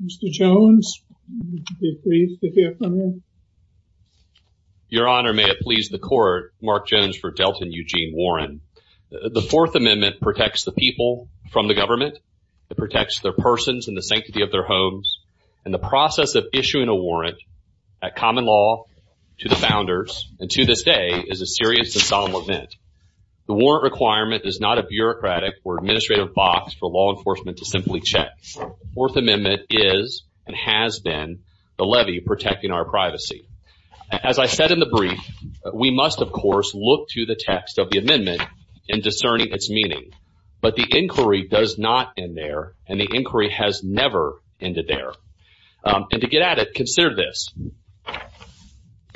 Mr. Jones, would you be pleased to hear from him? Your Honor, may it please the Court, Mark Jones for Delton Eugene Warren. The Fourth Amendment protects the people from the government. It protects their persons and the sanctity of their homes. And the process of issuing a warrant at common law to the founders, and to this day, is a serious and solemn event. The warrant requirement is not a bureaucratic or administrative box for law enforcement to simply check. The Fourth Amendment is, and has been, the levy protecting our privacy. As I said in the brief, we must, of course, look to the text of the amendment in discerning its meaning. But the inquiry does not end there, and the inquiry has never ended there. And to get at it, consider this.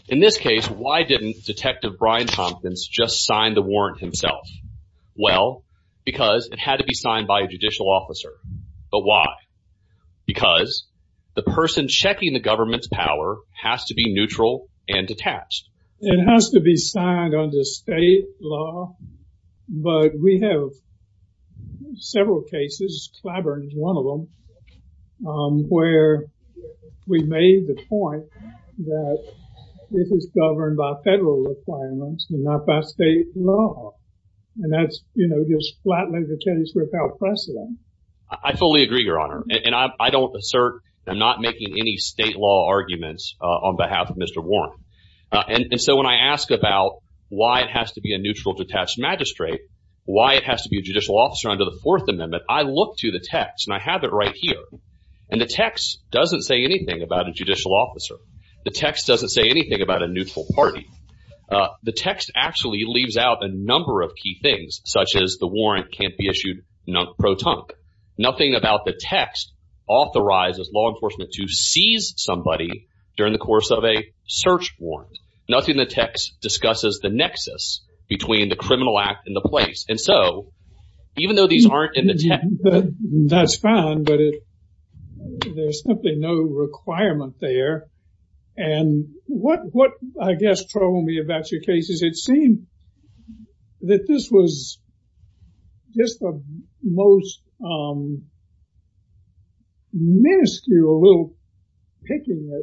In this case, why didn't Detective Brian Tompkins just sign the warrant himself? Well, because it had to be signed by a judicial officer. But why? Because the person checking the government's power has to be neutral and detached. It has to be signed under state law, but we have several cases, Clyburn is one of them, where we made the point that this is governed by federal requirements and not by state law. And that's, you know, just flattening the case without precedent. I fully agree, Your Honor, and I don't assert, I'm not making any state law arguments on behalf of Mr. Warren. And so when I ask about why it has to be a neutral detached magistrate, why it has to be a judicial officer under the Fourth Amendment, I look to the text, and I have it right here. And the text doesn't say anything about a judicial officer. The text doesn't say anything about a neutral party. The text actually leaves out a number of key things, such as the warrant can't be issued pro tonque. Nothing about the text authorizes law enforcement to seize somebody during the course of a search warrant. Nothing in the text discusses the nexus between the criminal act and the place. And so, even though these aren't in the text... That's fine, but there's simply no requirement there. And what, I guess, troubled me about your case is it seemed that this was just the most minuscule little picking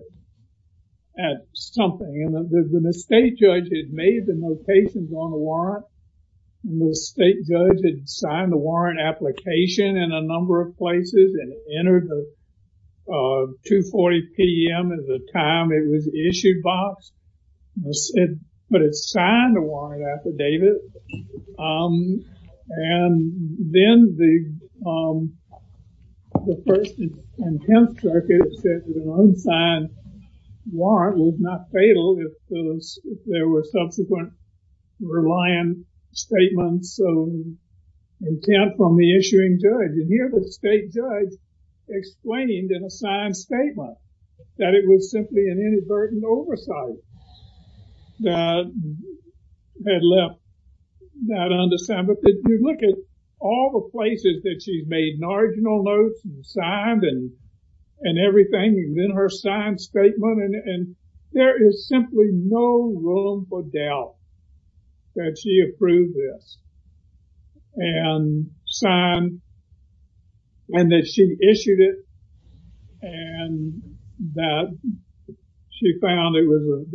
at something. And the state judge had made the notations on the warrant. The state judge had signed the warrant application in a number of places and entered the 2.40 p.m. at the time it was issued box. But it signed the warrant affidavit. And then the first and tenth circuit said that an unsigned warrant was not fatal if there were subsequent reliant statements of intent from the issuing judge. And here the state judge explained in a signed statement that it was simply an inadvertent oversight that had left that unsigned. But if you look at all the places that she's made marginal notes and signed and everything, and then her signed statement, and there is simply no room for doubt that she approved this. And signed and that she issued it and that she found it was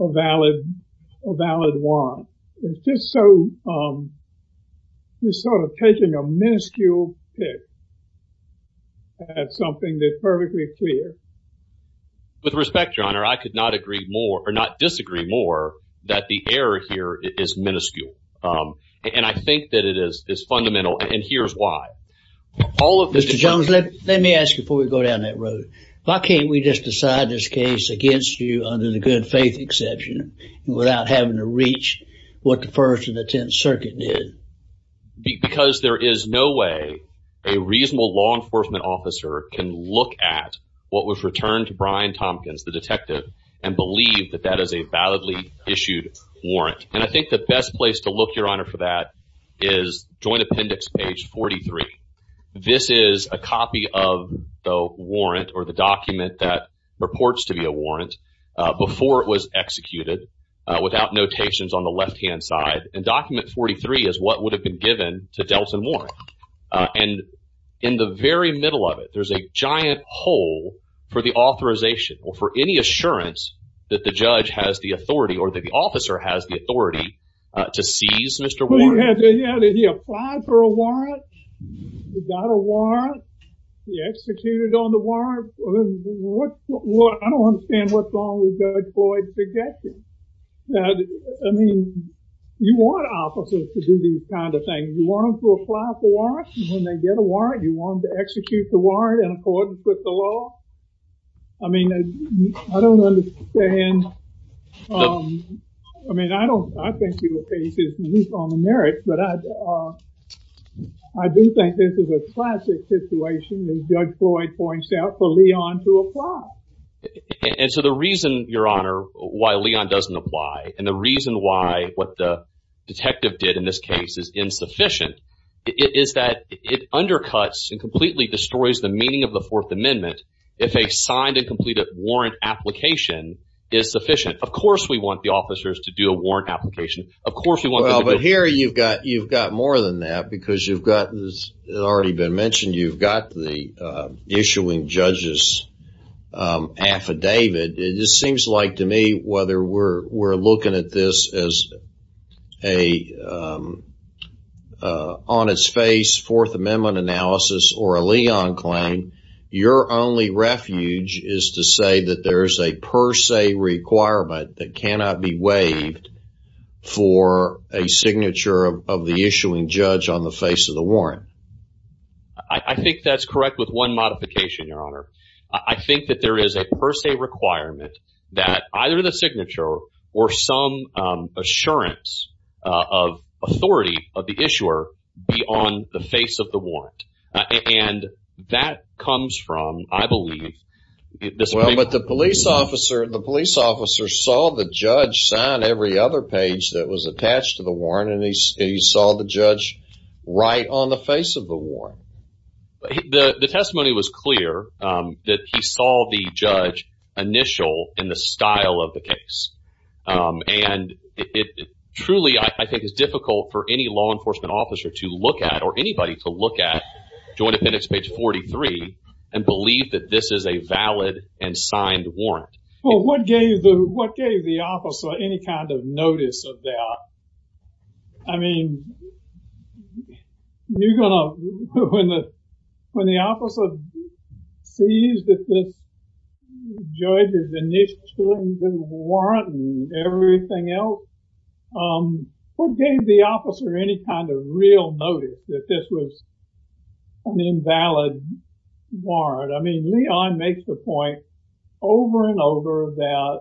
a valid warrant. It's just so, just sort of taking a minuscule pick at something that's perfectly clear. With respect, Your Honor, I could not agree more or not disagree more that the error here is minuscule. And I think that it is fundamental and here's why. All of- Mr. Jones, let me ask you before we go down that road. Why can't we just decide this case against you under the good faith exception without having to reach what the first and the tenth circuit did? Because there is no way a reasonable law enforcement officer can look at what was returned to Brian Tompkins, the detective, and believe that that is a validly issued warrant. And I think the best place to look, Your Honor, for that is Joint Appendix page 43. This is a copy of the warrant or the document that reports to be a warrant before it was executed without notations on the left-hand side. And document 43 is what would have been given to Delton Warren. And in the very middle of it, there's a giant hole for the authorization or for any assurance that the judge has the authority or that the officer has the authority to seize Mr. Warren. Well, yeah, did he apply for a warrant? He got a warrant? He executed on the warrant? I don't understand what's wrong with Judge Floyd's objection. I mean, you want officers to do these kind of things. You want them to apply for warrants and when they get a warrant, you want them to execute the warrant in accordance with the law? I mean, I don't understand. I mean, I think your case is unique on the merits, but I do think this is a classic situation, as Judge Floyd points out, for Leon to apply. And so the reason, Your Honor, why Leon doesn't apply and the reason why what the detective did in this case is insufficient is that it undercuts and completely destroys the meaning of the Fourth Amendment if a signed and completed warrant application is sufficient. Of course, we want the officers to do a warrant application. Of course, we want them to do it. Well, but here you've got more than that because you've got, as has already been mentioned, you've got the issuing judge's affidavit. It just seems like to me whether we're looking at this as a on its face Fourth Amendment analysis or a Leon claim, your only refuge is to say that there is a per se requirement that cannot be waived for a signature of the issuing judge on the face of the warrant. I think that's correct with one modification, Your Honor. I think that there is a per se requirement that either the signature or some assurance of authority of the issuer be on the face of the warrant. And that comes from, I believe... Well, but the police officer saw the judge sign every other page that was attached to the warrant and he saw the judge right on the face of the warrant. The testimony was clear that he saw the judge initial in the style of the case. And it truly, I think, is difficult for any law enforcement officer to look at or anybody to look at Joint Appendix page 43 and believe that this is a valid and signed warrant. Well, what gave the officer any kind of notice of that? I mean, when the officer sees that this judge has initialed the warrant and everything else, what gave the officer any kind of real notice that this was an invalid warrant? I mean, Leon makes the point over and over that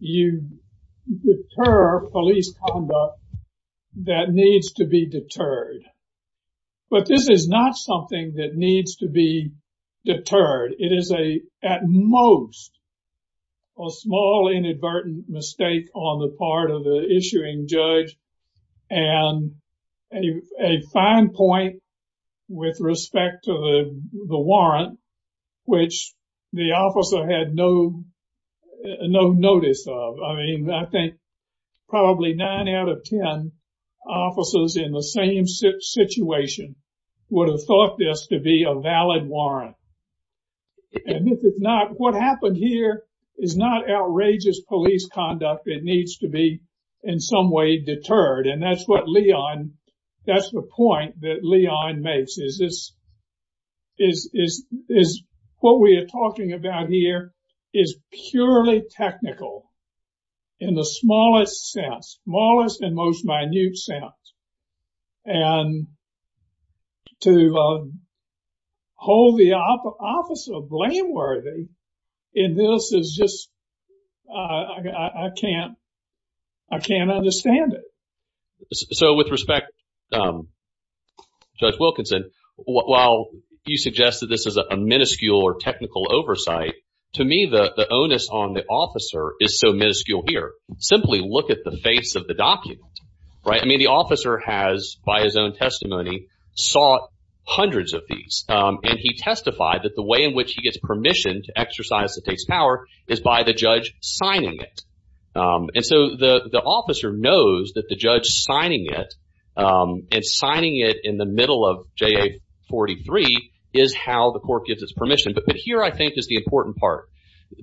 you deter police conduct that needs to be deterred. But this is not something that needs to be deterred. It is at most a small inadvertent mistake on the part of the issuing judge and a fine point with respect to the warrant, which the officer had no notice of. I mean, I think probably 9 out of 10 officers in the same situation would have thought this to be a valid warrant. And if it's not, what happened here is not outrageous police conduct. It needs to be in some way deterred. And that's what Leon, that's the point that Leon makes is this what we are talking about here is purely technical in the smallest sense, smallest and most minute sense. And to hold the officer blameworthy in this is just, I can't understand it. So with respect, Judge Wilkinson, while you suggest that this is a minuscule or technical oversight, to me, the onus on the officer is so minuscule here. Simply look at the face of the document, right? I mean, the officer has, by his own testimony, sought hundreds of these. And he testified that the way in which he gets permission to exercise the state's power is by the judge signing it. And so the officer knows that the judge signing it and signing it in the middle of JA-43 is how the court gives its permission. But here, I think, is the important part.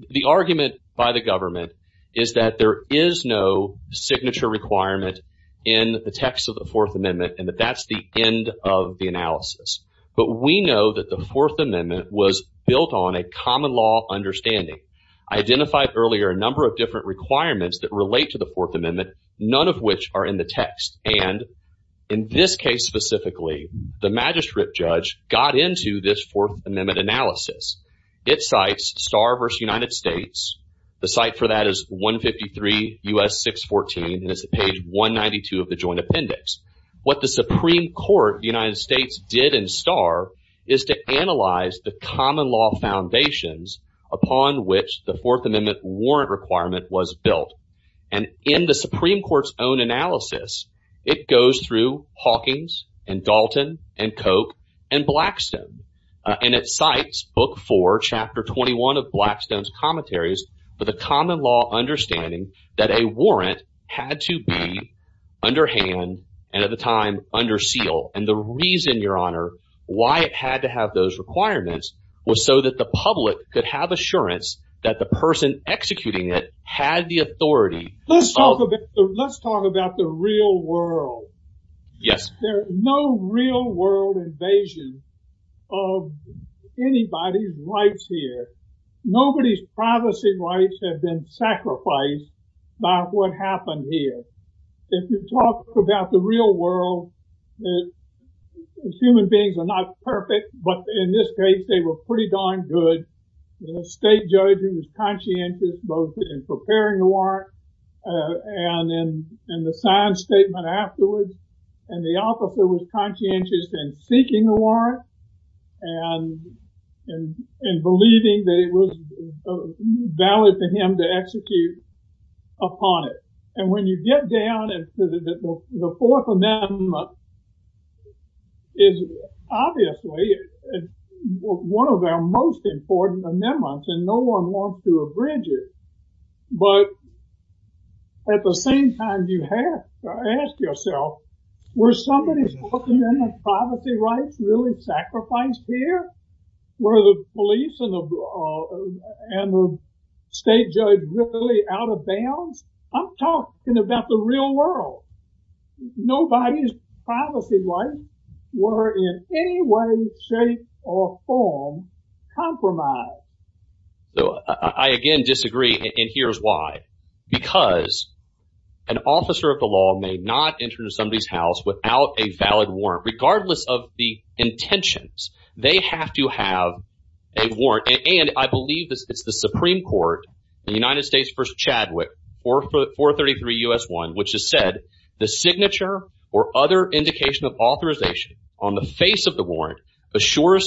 The argument by the government is that there is no signature requirement in the text of the Fourth Amendment and that that's the end of the analysis. But we know that the Fourth Amendment was built on a common law understanding. I identified earlier a number of different requirements that relate to the Fourth Amendment, none of which are in the text. And in this case specifically, the magistrate judge got into this Fourth Amendment analysis. It cites Starr v. United States. The site for that is 153 U.S. 614, and it's page 192 of the joint appendix. What the Supreme Court of the United States did in Starr is to analyze the common law foundations upon which the Fourth Amendment warrant requirement was built. And in the Supreme Court's own analysis, it goes through Hawkins and Dalton and Koch and Blackstone. And it cites Book 4, Chapter 21 of Blackstone's commentaries for the common law understanding that a warrant had to be underhand and at the time under seal. And the reason, Your Honor, why it had to have those requirements was so that the public could have assurance that the person executing it had the authority. Let's talk about the real world. Yes. There's no real world invasion of anybody's rights here. Nobody's privacy rights have been sacrificed by what happened here. If you talk about the real world, human beings are not perfect, but in this case, they were pretty darn good. The state judge was conscientious both in preparing the warrant and in the signed statement afterwards. And the officer was conscientious in seeking the warrant and in believing that it was valid for him to execute upon it. And when you get down to the Fourth Amendment, it's obviously one of our most important amendments and no one wants to abridge it. But at the same time, you have to ask yourself, were somebody's Fourth Amendment privacy rights really sacrificed here? Were the police and the state judge really out of bounds? I'm talking about the real world. Nobody's privacy rights were in any way, shape or form compromised. So I again disagree, and here's why. Because an officer of the law may not enter somebody's house without a valid warrant, regardless of the intentions. They have to have a warrant. And I believe it's the Supreme Court, the United States v. Chadwick, 433 U.S. 1, which has said, assures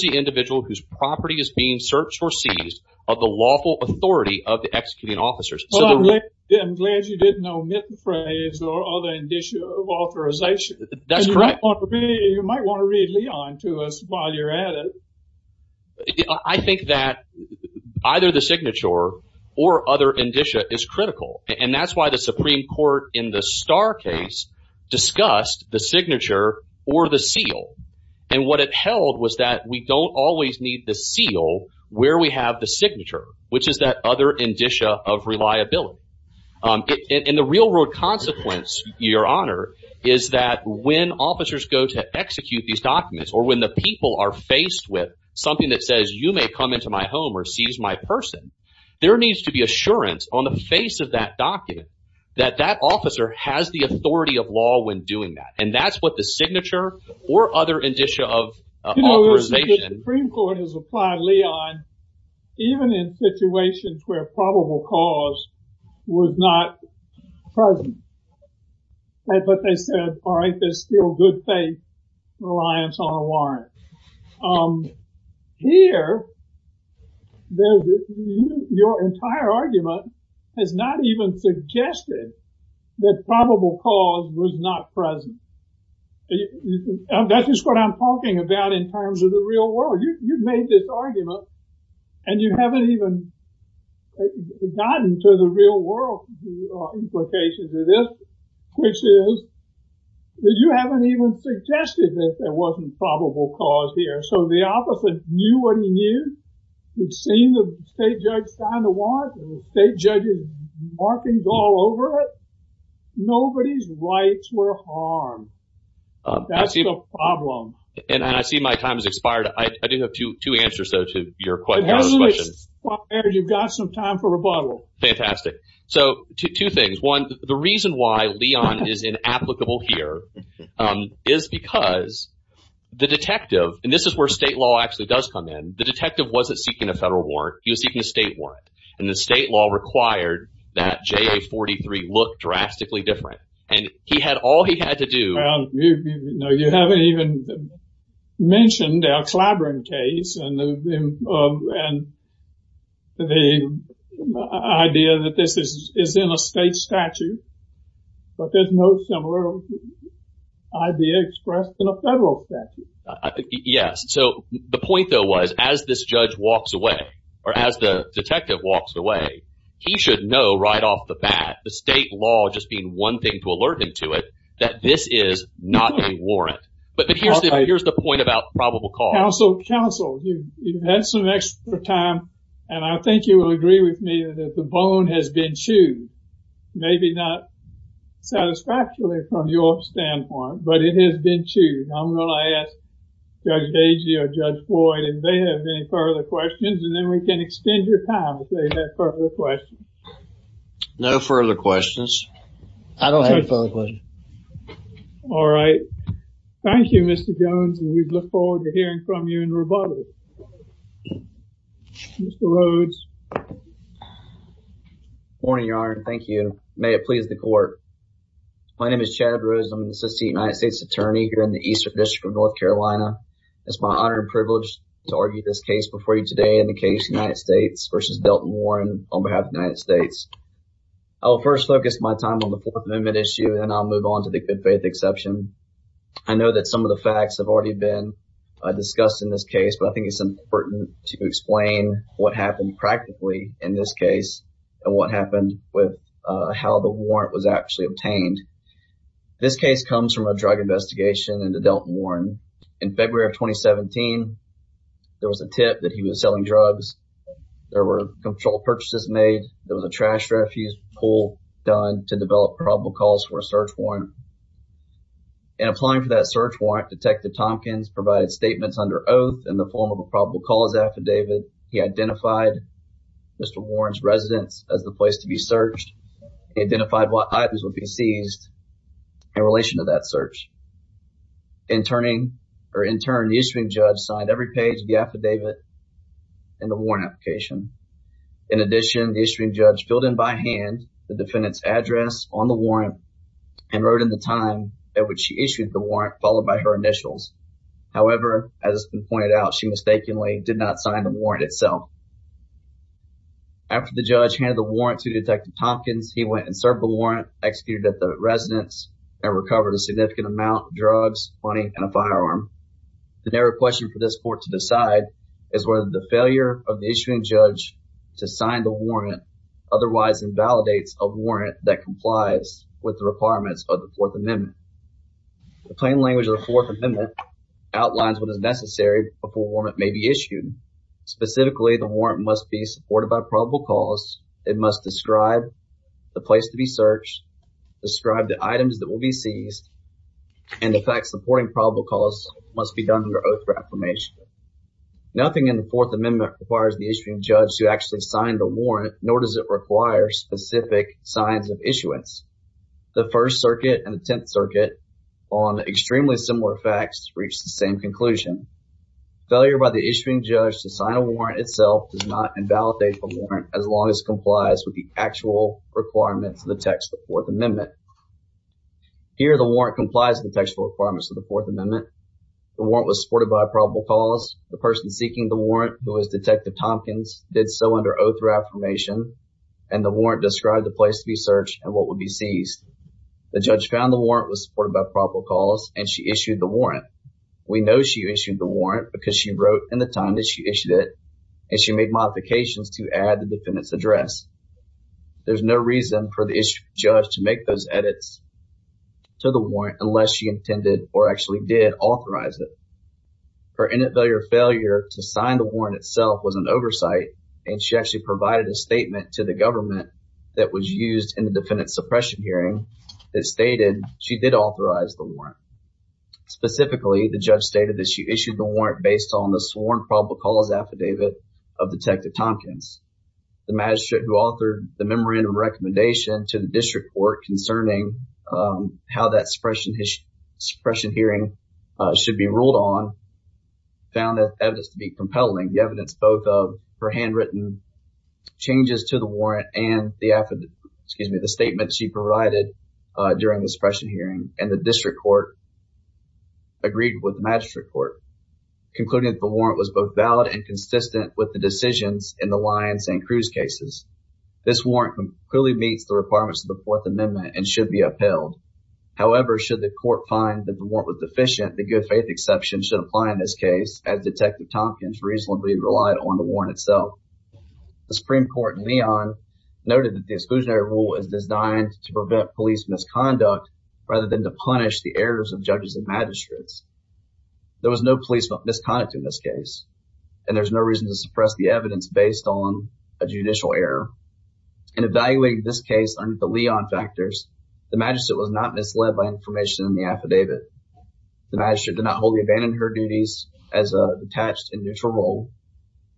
the individual whose property is being searched or seized of the lawful authority of the executing officers. Well, I'm glad you didn't omit the phrase or other indicia of authorization. That's correct. You might want to read Leon to us while you're at it. I think that either the signature or other indicia is critical. And that's why the Supreme Court in the Starr case discussed the signature or the seal. And what it held was that we don't always need the seal where we have the signature, which is that other indicia of reliability. And the real world consequence, Your Honor, is that when officers go to execute these documents, or when the people are faced with something that says, you may come into my home or seize my person, there needs to be assurance on the face of that document that that officer has the authority of law when doing that. And that's what the signature or other indicia of authorization. The Supreme Court has applied, Leon, even in situations where probable cause was not present. But they said, all right, there's still good faith reliance on a warrant. Here, your entire argument has not even suggested that probable cause was not present. And that's just what I'm talking about in terms of the real world. You've made this argument. And you haven't even gotten to the real world implications of this, which is that you haven't even suggested that there wasn't probable cause here. So the officer knew what he knew. He'd seen the state judge sign the warrant, and the state judge's markings all over it. Nobody's rights were harmed. That's the problem. And I see my time has expired. I do have two answers, though, to your questions. It hasn't expired. You've got some time for rebuttal. Fantastic. So two things. One, the reason why Leon is inapplicable here is because the detective, and this is where state law actually does come in, the detective wasn't seeking a federal warrant. He was seeking a state warrant. And the state law required that JA-43 look drastically different. And he had all he had to do... No, you haven't even mentioned our Clyburn case and the idea that this is in a state statute. But there's no similar idea expressed in a federal statute. Yes. So the point, though, was as this judge walks away, or as the detective walks away, he should know right off the bat the state law just being one thing to alert him to it, that this is not a warrant. But here's the point about probable cause. Counsel, you've had some extra time, and I think you will agree with me that the bone has been chewed. Maybe not satisfactorily from your standpoint, but it has been chewed. I'm going to ask Judge Deji or Judge Floyd if they have any further questions, and then we can extend your time if they have further questions. No further questions. I don't have a further question. All right. Thank you, Mr. Jones, and we look forward to hearing from you in Revolu. Mr. Rhodes. Good morning, Your Honor. Thank you. May it please the court. My name is Chad Rhodes. I'm an assistant United States attorney here in the Eastern District of North Carolina. It's my honor and privilege to argue this case before you today in the case United States versus Delton Warren on behalf of the United States. I will first focus my time on the Fourth Amendment issue, and then I'll move on to the good faith exception. I know that some of the facts have already been discussed in this case, but I think it's important to explain what happened practically in this case and what happened with how the warrant was actually obtained. This case comes from a drug investigation into Delton Warren. In February of 2017, there was a tip that he was selling drugs. There were controlled purchases made. There was a trash refuse pull done to develop probable calls for a search warrant. In applying for that search warrant, Detective Tompkins provided statements under oath in the form of a probable cause affidavit. He identified Mr. Warren's residence as the place to be searched. He identified what items would be seized in relation to that search. Interning, or intern, the issuing judge signed every page of the affidavit. And the warrant application. In addition, the issuing judge filled in by hand the defendant's address on the warrant and wrote in the time at which she issued the warrant, followed by her initials. However, as has been pointed out, she mistakenly did not sign the warrant itself. After the judge handed the warrant to Detective Tompkins, he went and served the warrant, executed at the residence, and recovered a significant amount of drugs, money, and a firearm. The narrow question for this court to decide is whether the failure of the issuing judge to sign the warrant otherwise invalidates a warrant that complies with the requirements of the Fourth Amendment. The plain language of the Fourth Amendment outlines what is necessary before a warrant may be issued. Specifically, the warrant must be supported by probable cause. It must describe the place to be searched, describe the items that will be seized, and the facts supporting probable cause must be done under oath for affirmation. Nothing in the Fourth Amendment requires the issuing judge to actually sign the warrant, nor does it require specific signs of issuance. The First Circuit and the Tenth Circuit, on extremely similar facts, reached the same conclusion. Failure by the issuing judge to sign a warrant itself does not invalidate the warrant as long as it complies with the actual requirements of the text of the Fourth Amendment. Here, the warrant complies with the textual requirements of the Fourth Amendment. The warrant was supported by probable cause. The person seeking the warrant, who is Detective Tompkins, did so under oath for affirmation, and the warrant described the place to be searched and what would be seized. The judge found the warrant was supported by probable cause, and she issued the warrant. We know she issued the warrant because she wrote in the time that she issued it, and she made modifications to add the defendant's address. There's no reason for the issuing judge to make those edits to the warrant unless she intended, or actually did, authorize it. Her initial failure to sign the warrant itself was an oversight, and she actually provided a statement to the government that was used in the defendant's suppression hearing that stated she did authorize the warrant. Specifically, the judge stated that she issued the warrant based on the sworn probable cause affidavit of Detective Tompkins. The magistrate, who authored the memorandum of recommendation to the district court concerning how that suppression hearing should be ruled on, found the evidence to be compelling. The evidence spoke of her handwritten changes to the warrant and the affidavit, excuse me, the statement she provided during the suppression hearing, and the district court agreed with the magistrate court, concluding that the warrant was both valid and consistent with the decisions in the Lyons and Cruz cases. This warrant clearly meets the requirements of the Fourth Amendment and should be upheld. However, should the court find that the warrant was deficient, the good faith exception should apply in this case, as Detective Tompkins reasonably relied on the warrant itself. The Supreme Court in Leon noted that the exclusionary rule is designed to prevent police misconduct rather than to punish the errors of judges and magistrates. There was no police misconduct in this case, and there's no reason to suppress the evidence based on a judicial error. In evaluating this case under the Lyons factors, the magistrate was not misled by information in the affidavit. The magistrate did not wholly abandon her duties as a detached and neutral role.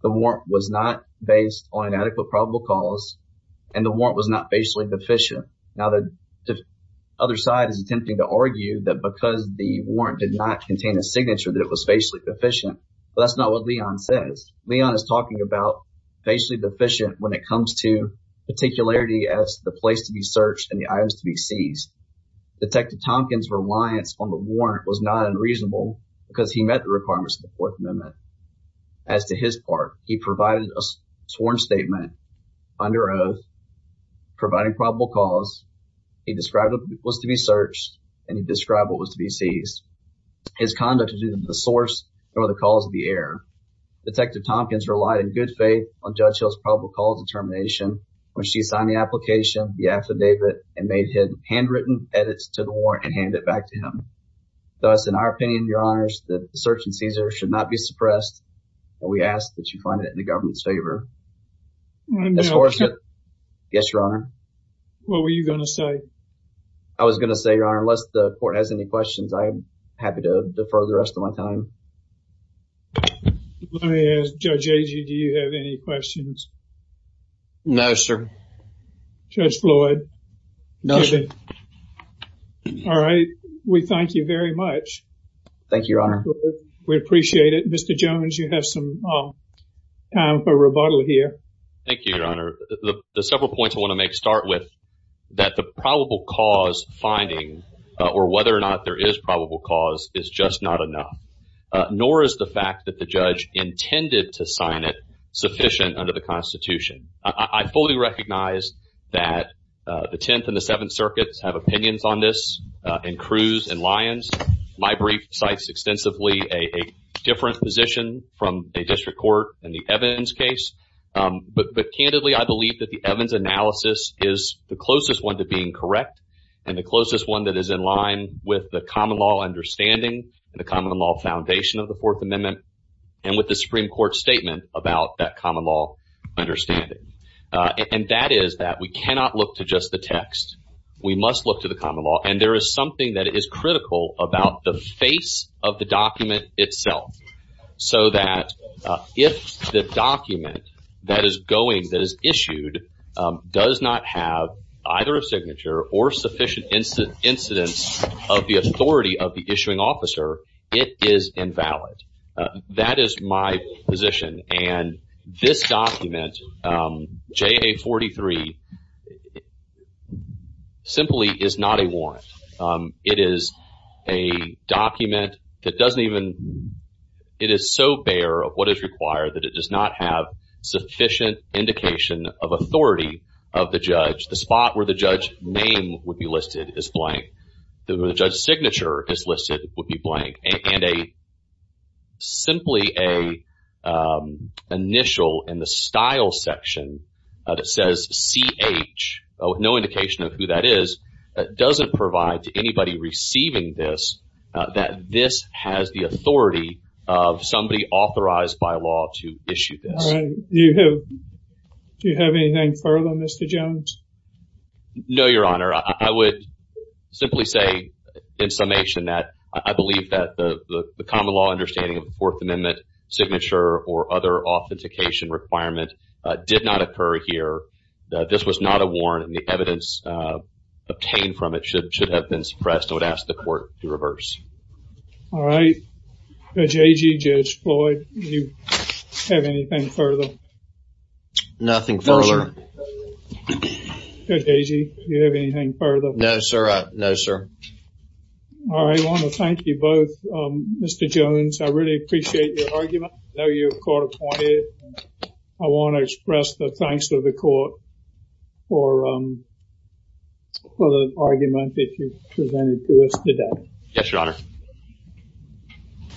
The warrant was not based on inadequate probable cause, and the warrant was not facially deficient. Now, the other side is attempting to argue that because the warrant did not contain a Leon is talking about facially deficient when it comes to particularity as the place to be searched and the items to be seized. Detective Tompkins' reliance on the warrant was not unreasonable because he met the requirements of the Fourth Amendment. As to his part, he provided a sworn statement under oath providing probable cause. He described what was to be searched and he described what was to be seized. His conduct was neither the source nor the cause of the error. Detective Tompkins relied in good faith on Judge Hill's probable cause determination when she signed the application, the affidavit, and made his handwritten edits to the warrant and handed it back to him. Thus, in our opinion, Your Honors, the search and seizure should not be suppressed. We ask that you find it in the government's favor. Yes, Your Honor. I was going to say, Your Honor, unless the court has any questions, I'm happy to defer the rest of my time. Let me ask Judge Agee, do you have any questions? No, sir. Judge Floyd? No, sir. All right. We thank you very much. Thank you, Your Honor. We appreciate it. Mr. Jones, you have some time for rebuttal here. Thank you, Your Honor. The several points I want to make start with that the probable cause finding or whether or not there is probable cause is just not enough, nor is the fact that the judge intended to sign it sufficient under the Constitution. I fully recognize that the Tenth and the Seventh Circuits have opinions on this, and Cruz and Lyons. My brief cites extensively a different position from a district court in the Evans case. But candidly, I believe that the Evans analysis is the closest one to being correct and the closest one that is in line with the common law understanding and the common law foundation of the Fourth Amendment and with the Supreme Court statement about that common law understanding. And that is that we cannot look to just the text. We must look to the common law. And there is something that is critical about the face of the document itself, so that if the document that is going, that is issued, does not have either a signature or sufficient incidence of the authority of the issuing officer, it is invalid. That is my position. And this document, JA-43, simply is not a warrant. It is a document that doesn't even, it is so bare of what is required that it does not have sufficient indication of authority of the judge. The spot where the judge's name would be listed is blank. The judge's signature is listed would be blank. And simply an initial in the style section that says CH, no indication of who that is, doesn't provide to anybody receiving this that this has the authority of somebody authorized by law to issue this. All right, do you have anything further, Mr. Jones? No, Your Honor. I would simply say in summation that I believe that the common law understanding of the Fourth Amendment signature or other authentication requirement did not occur here. This was not a warrant. And the evidence obtained from it should have been suppressed. I would ask the court to reverse. All right, Judge Agee, Judge Floyd, do you have anything further? Nothing further. Judge Agee, do you have anything further? No, sir. All right, I want to thank you both, Mr. Jones. I really appreciate your argument. I know you're court appointed. I want to express the thanks to the court for the argument that you presented to us today. Yes, Your Honor.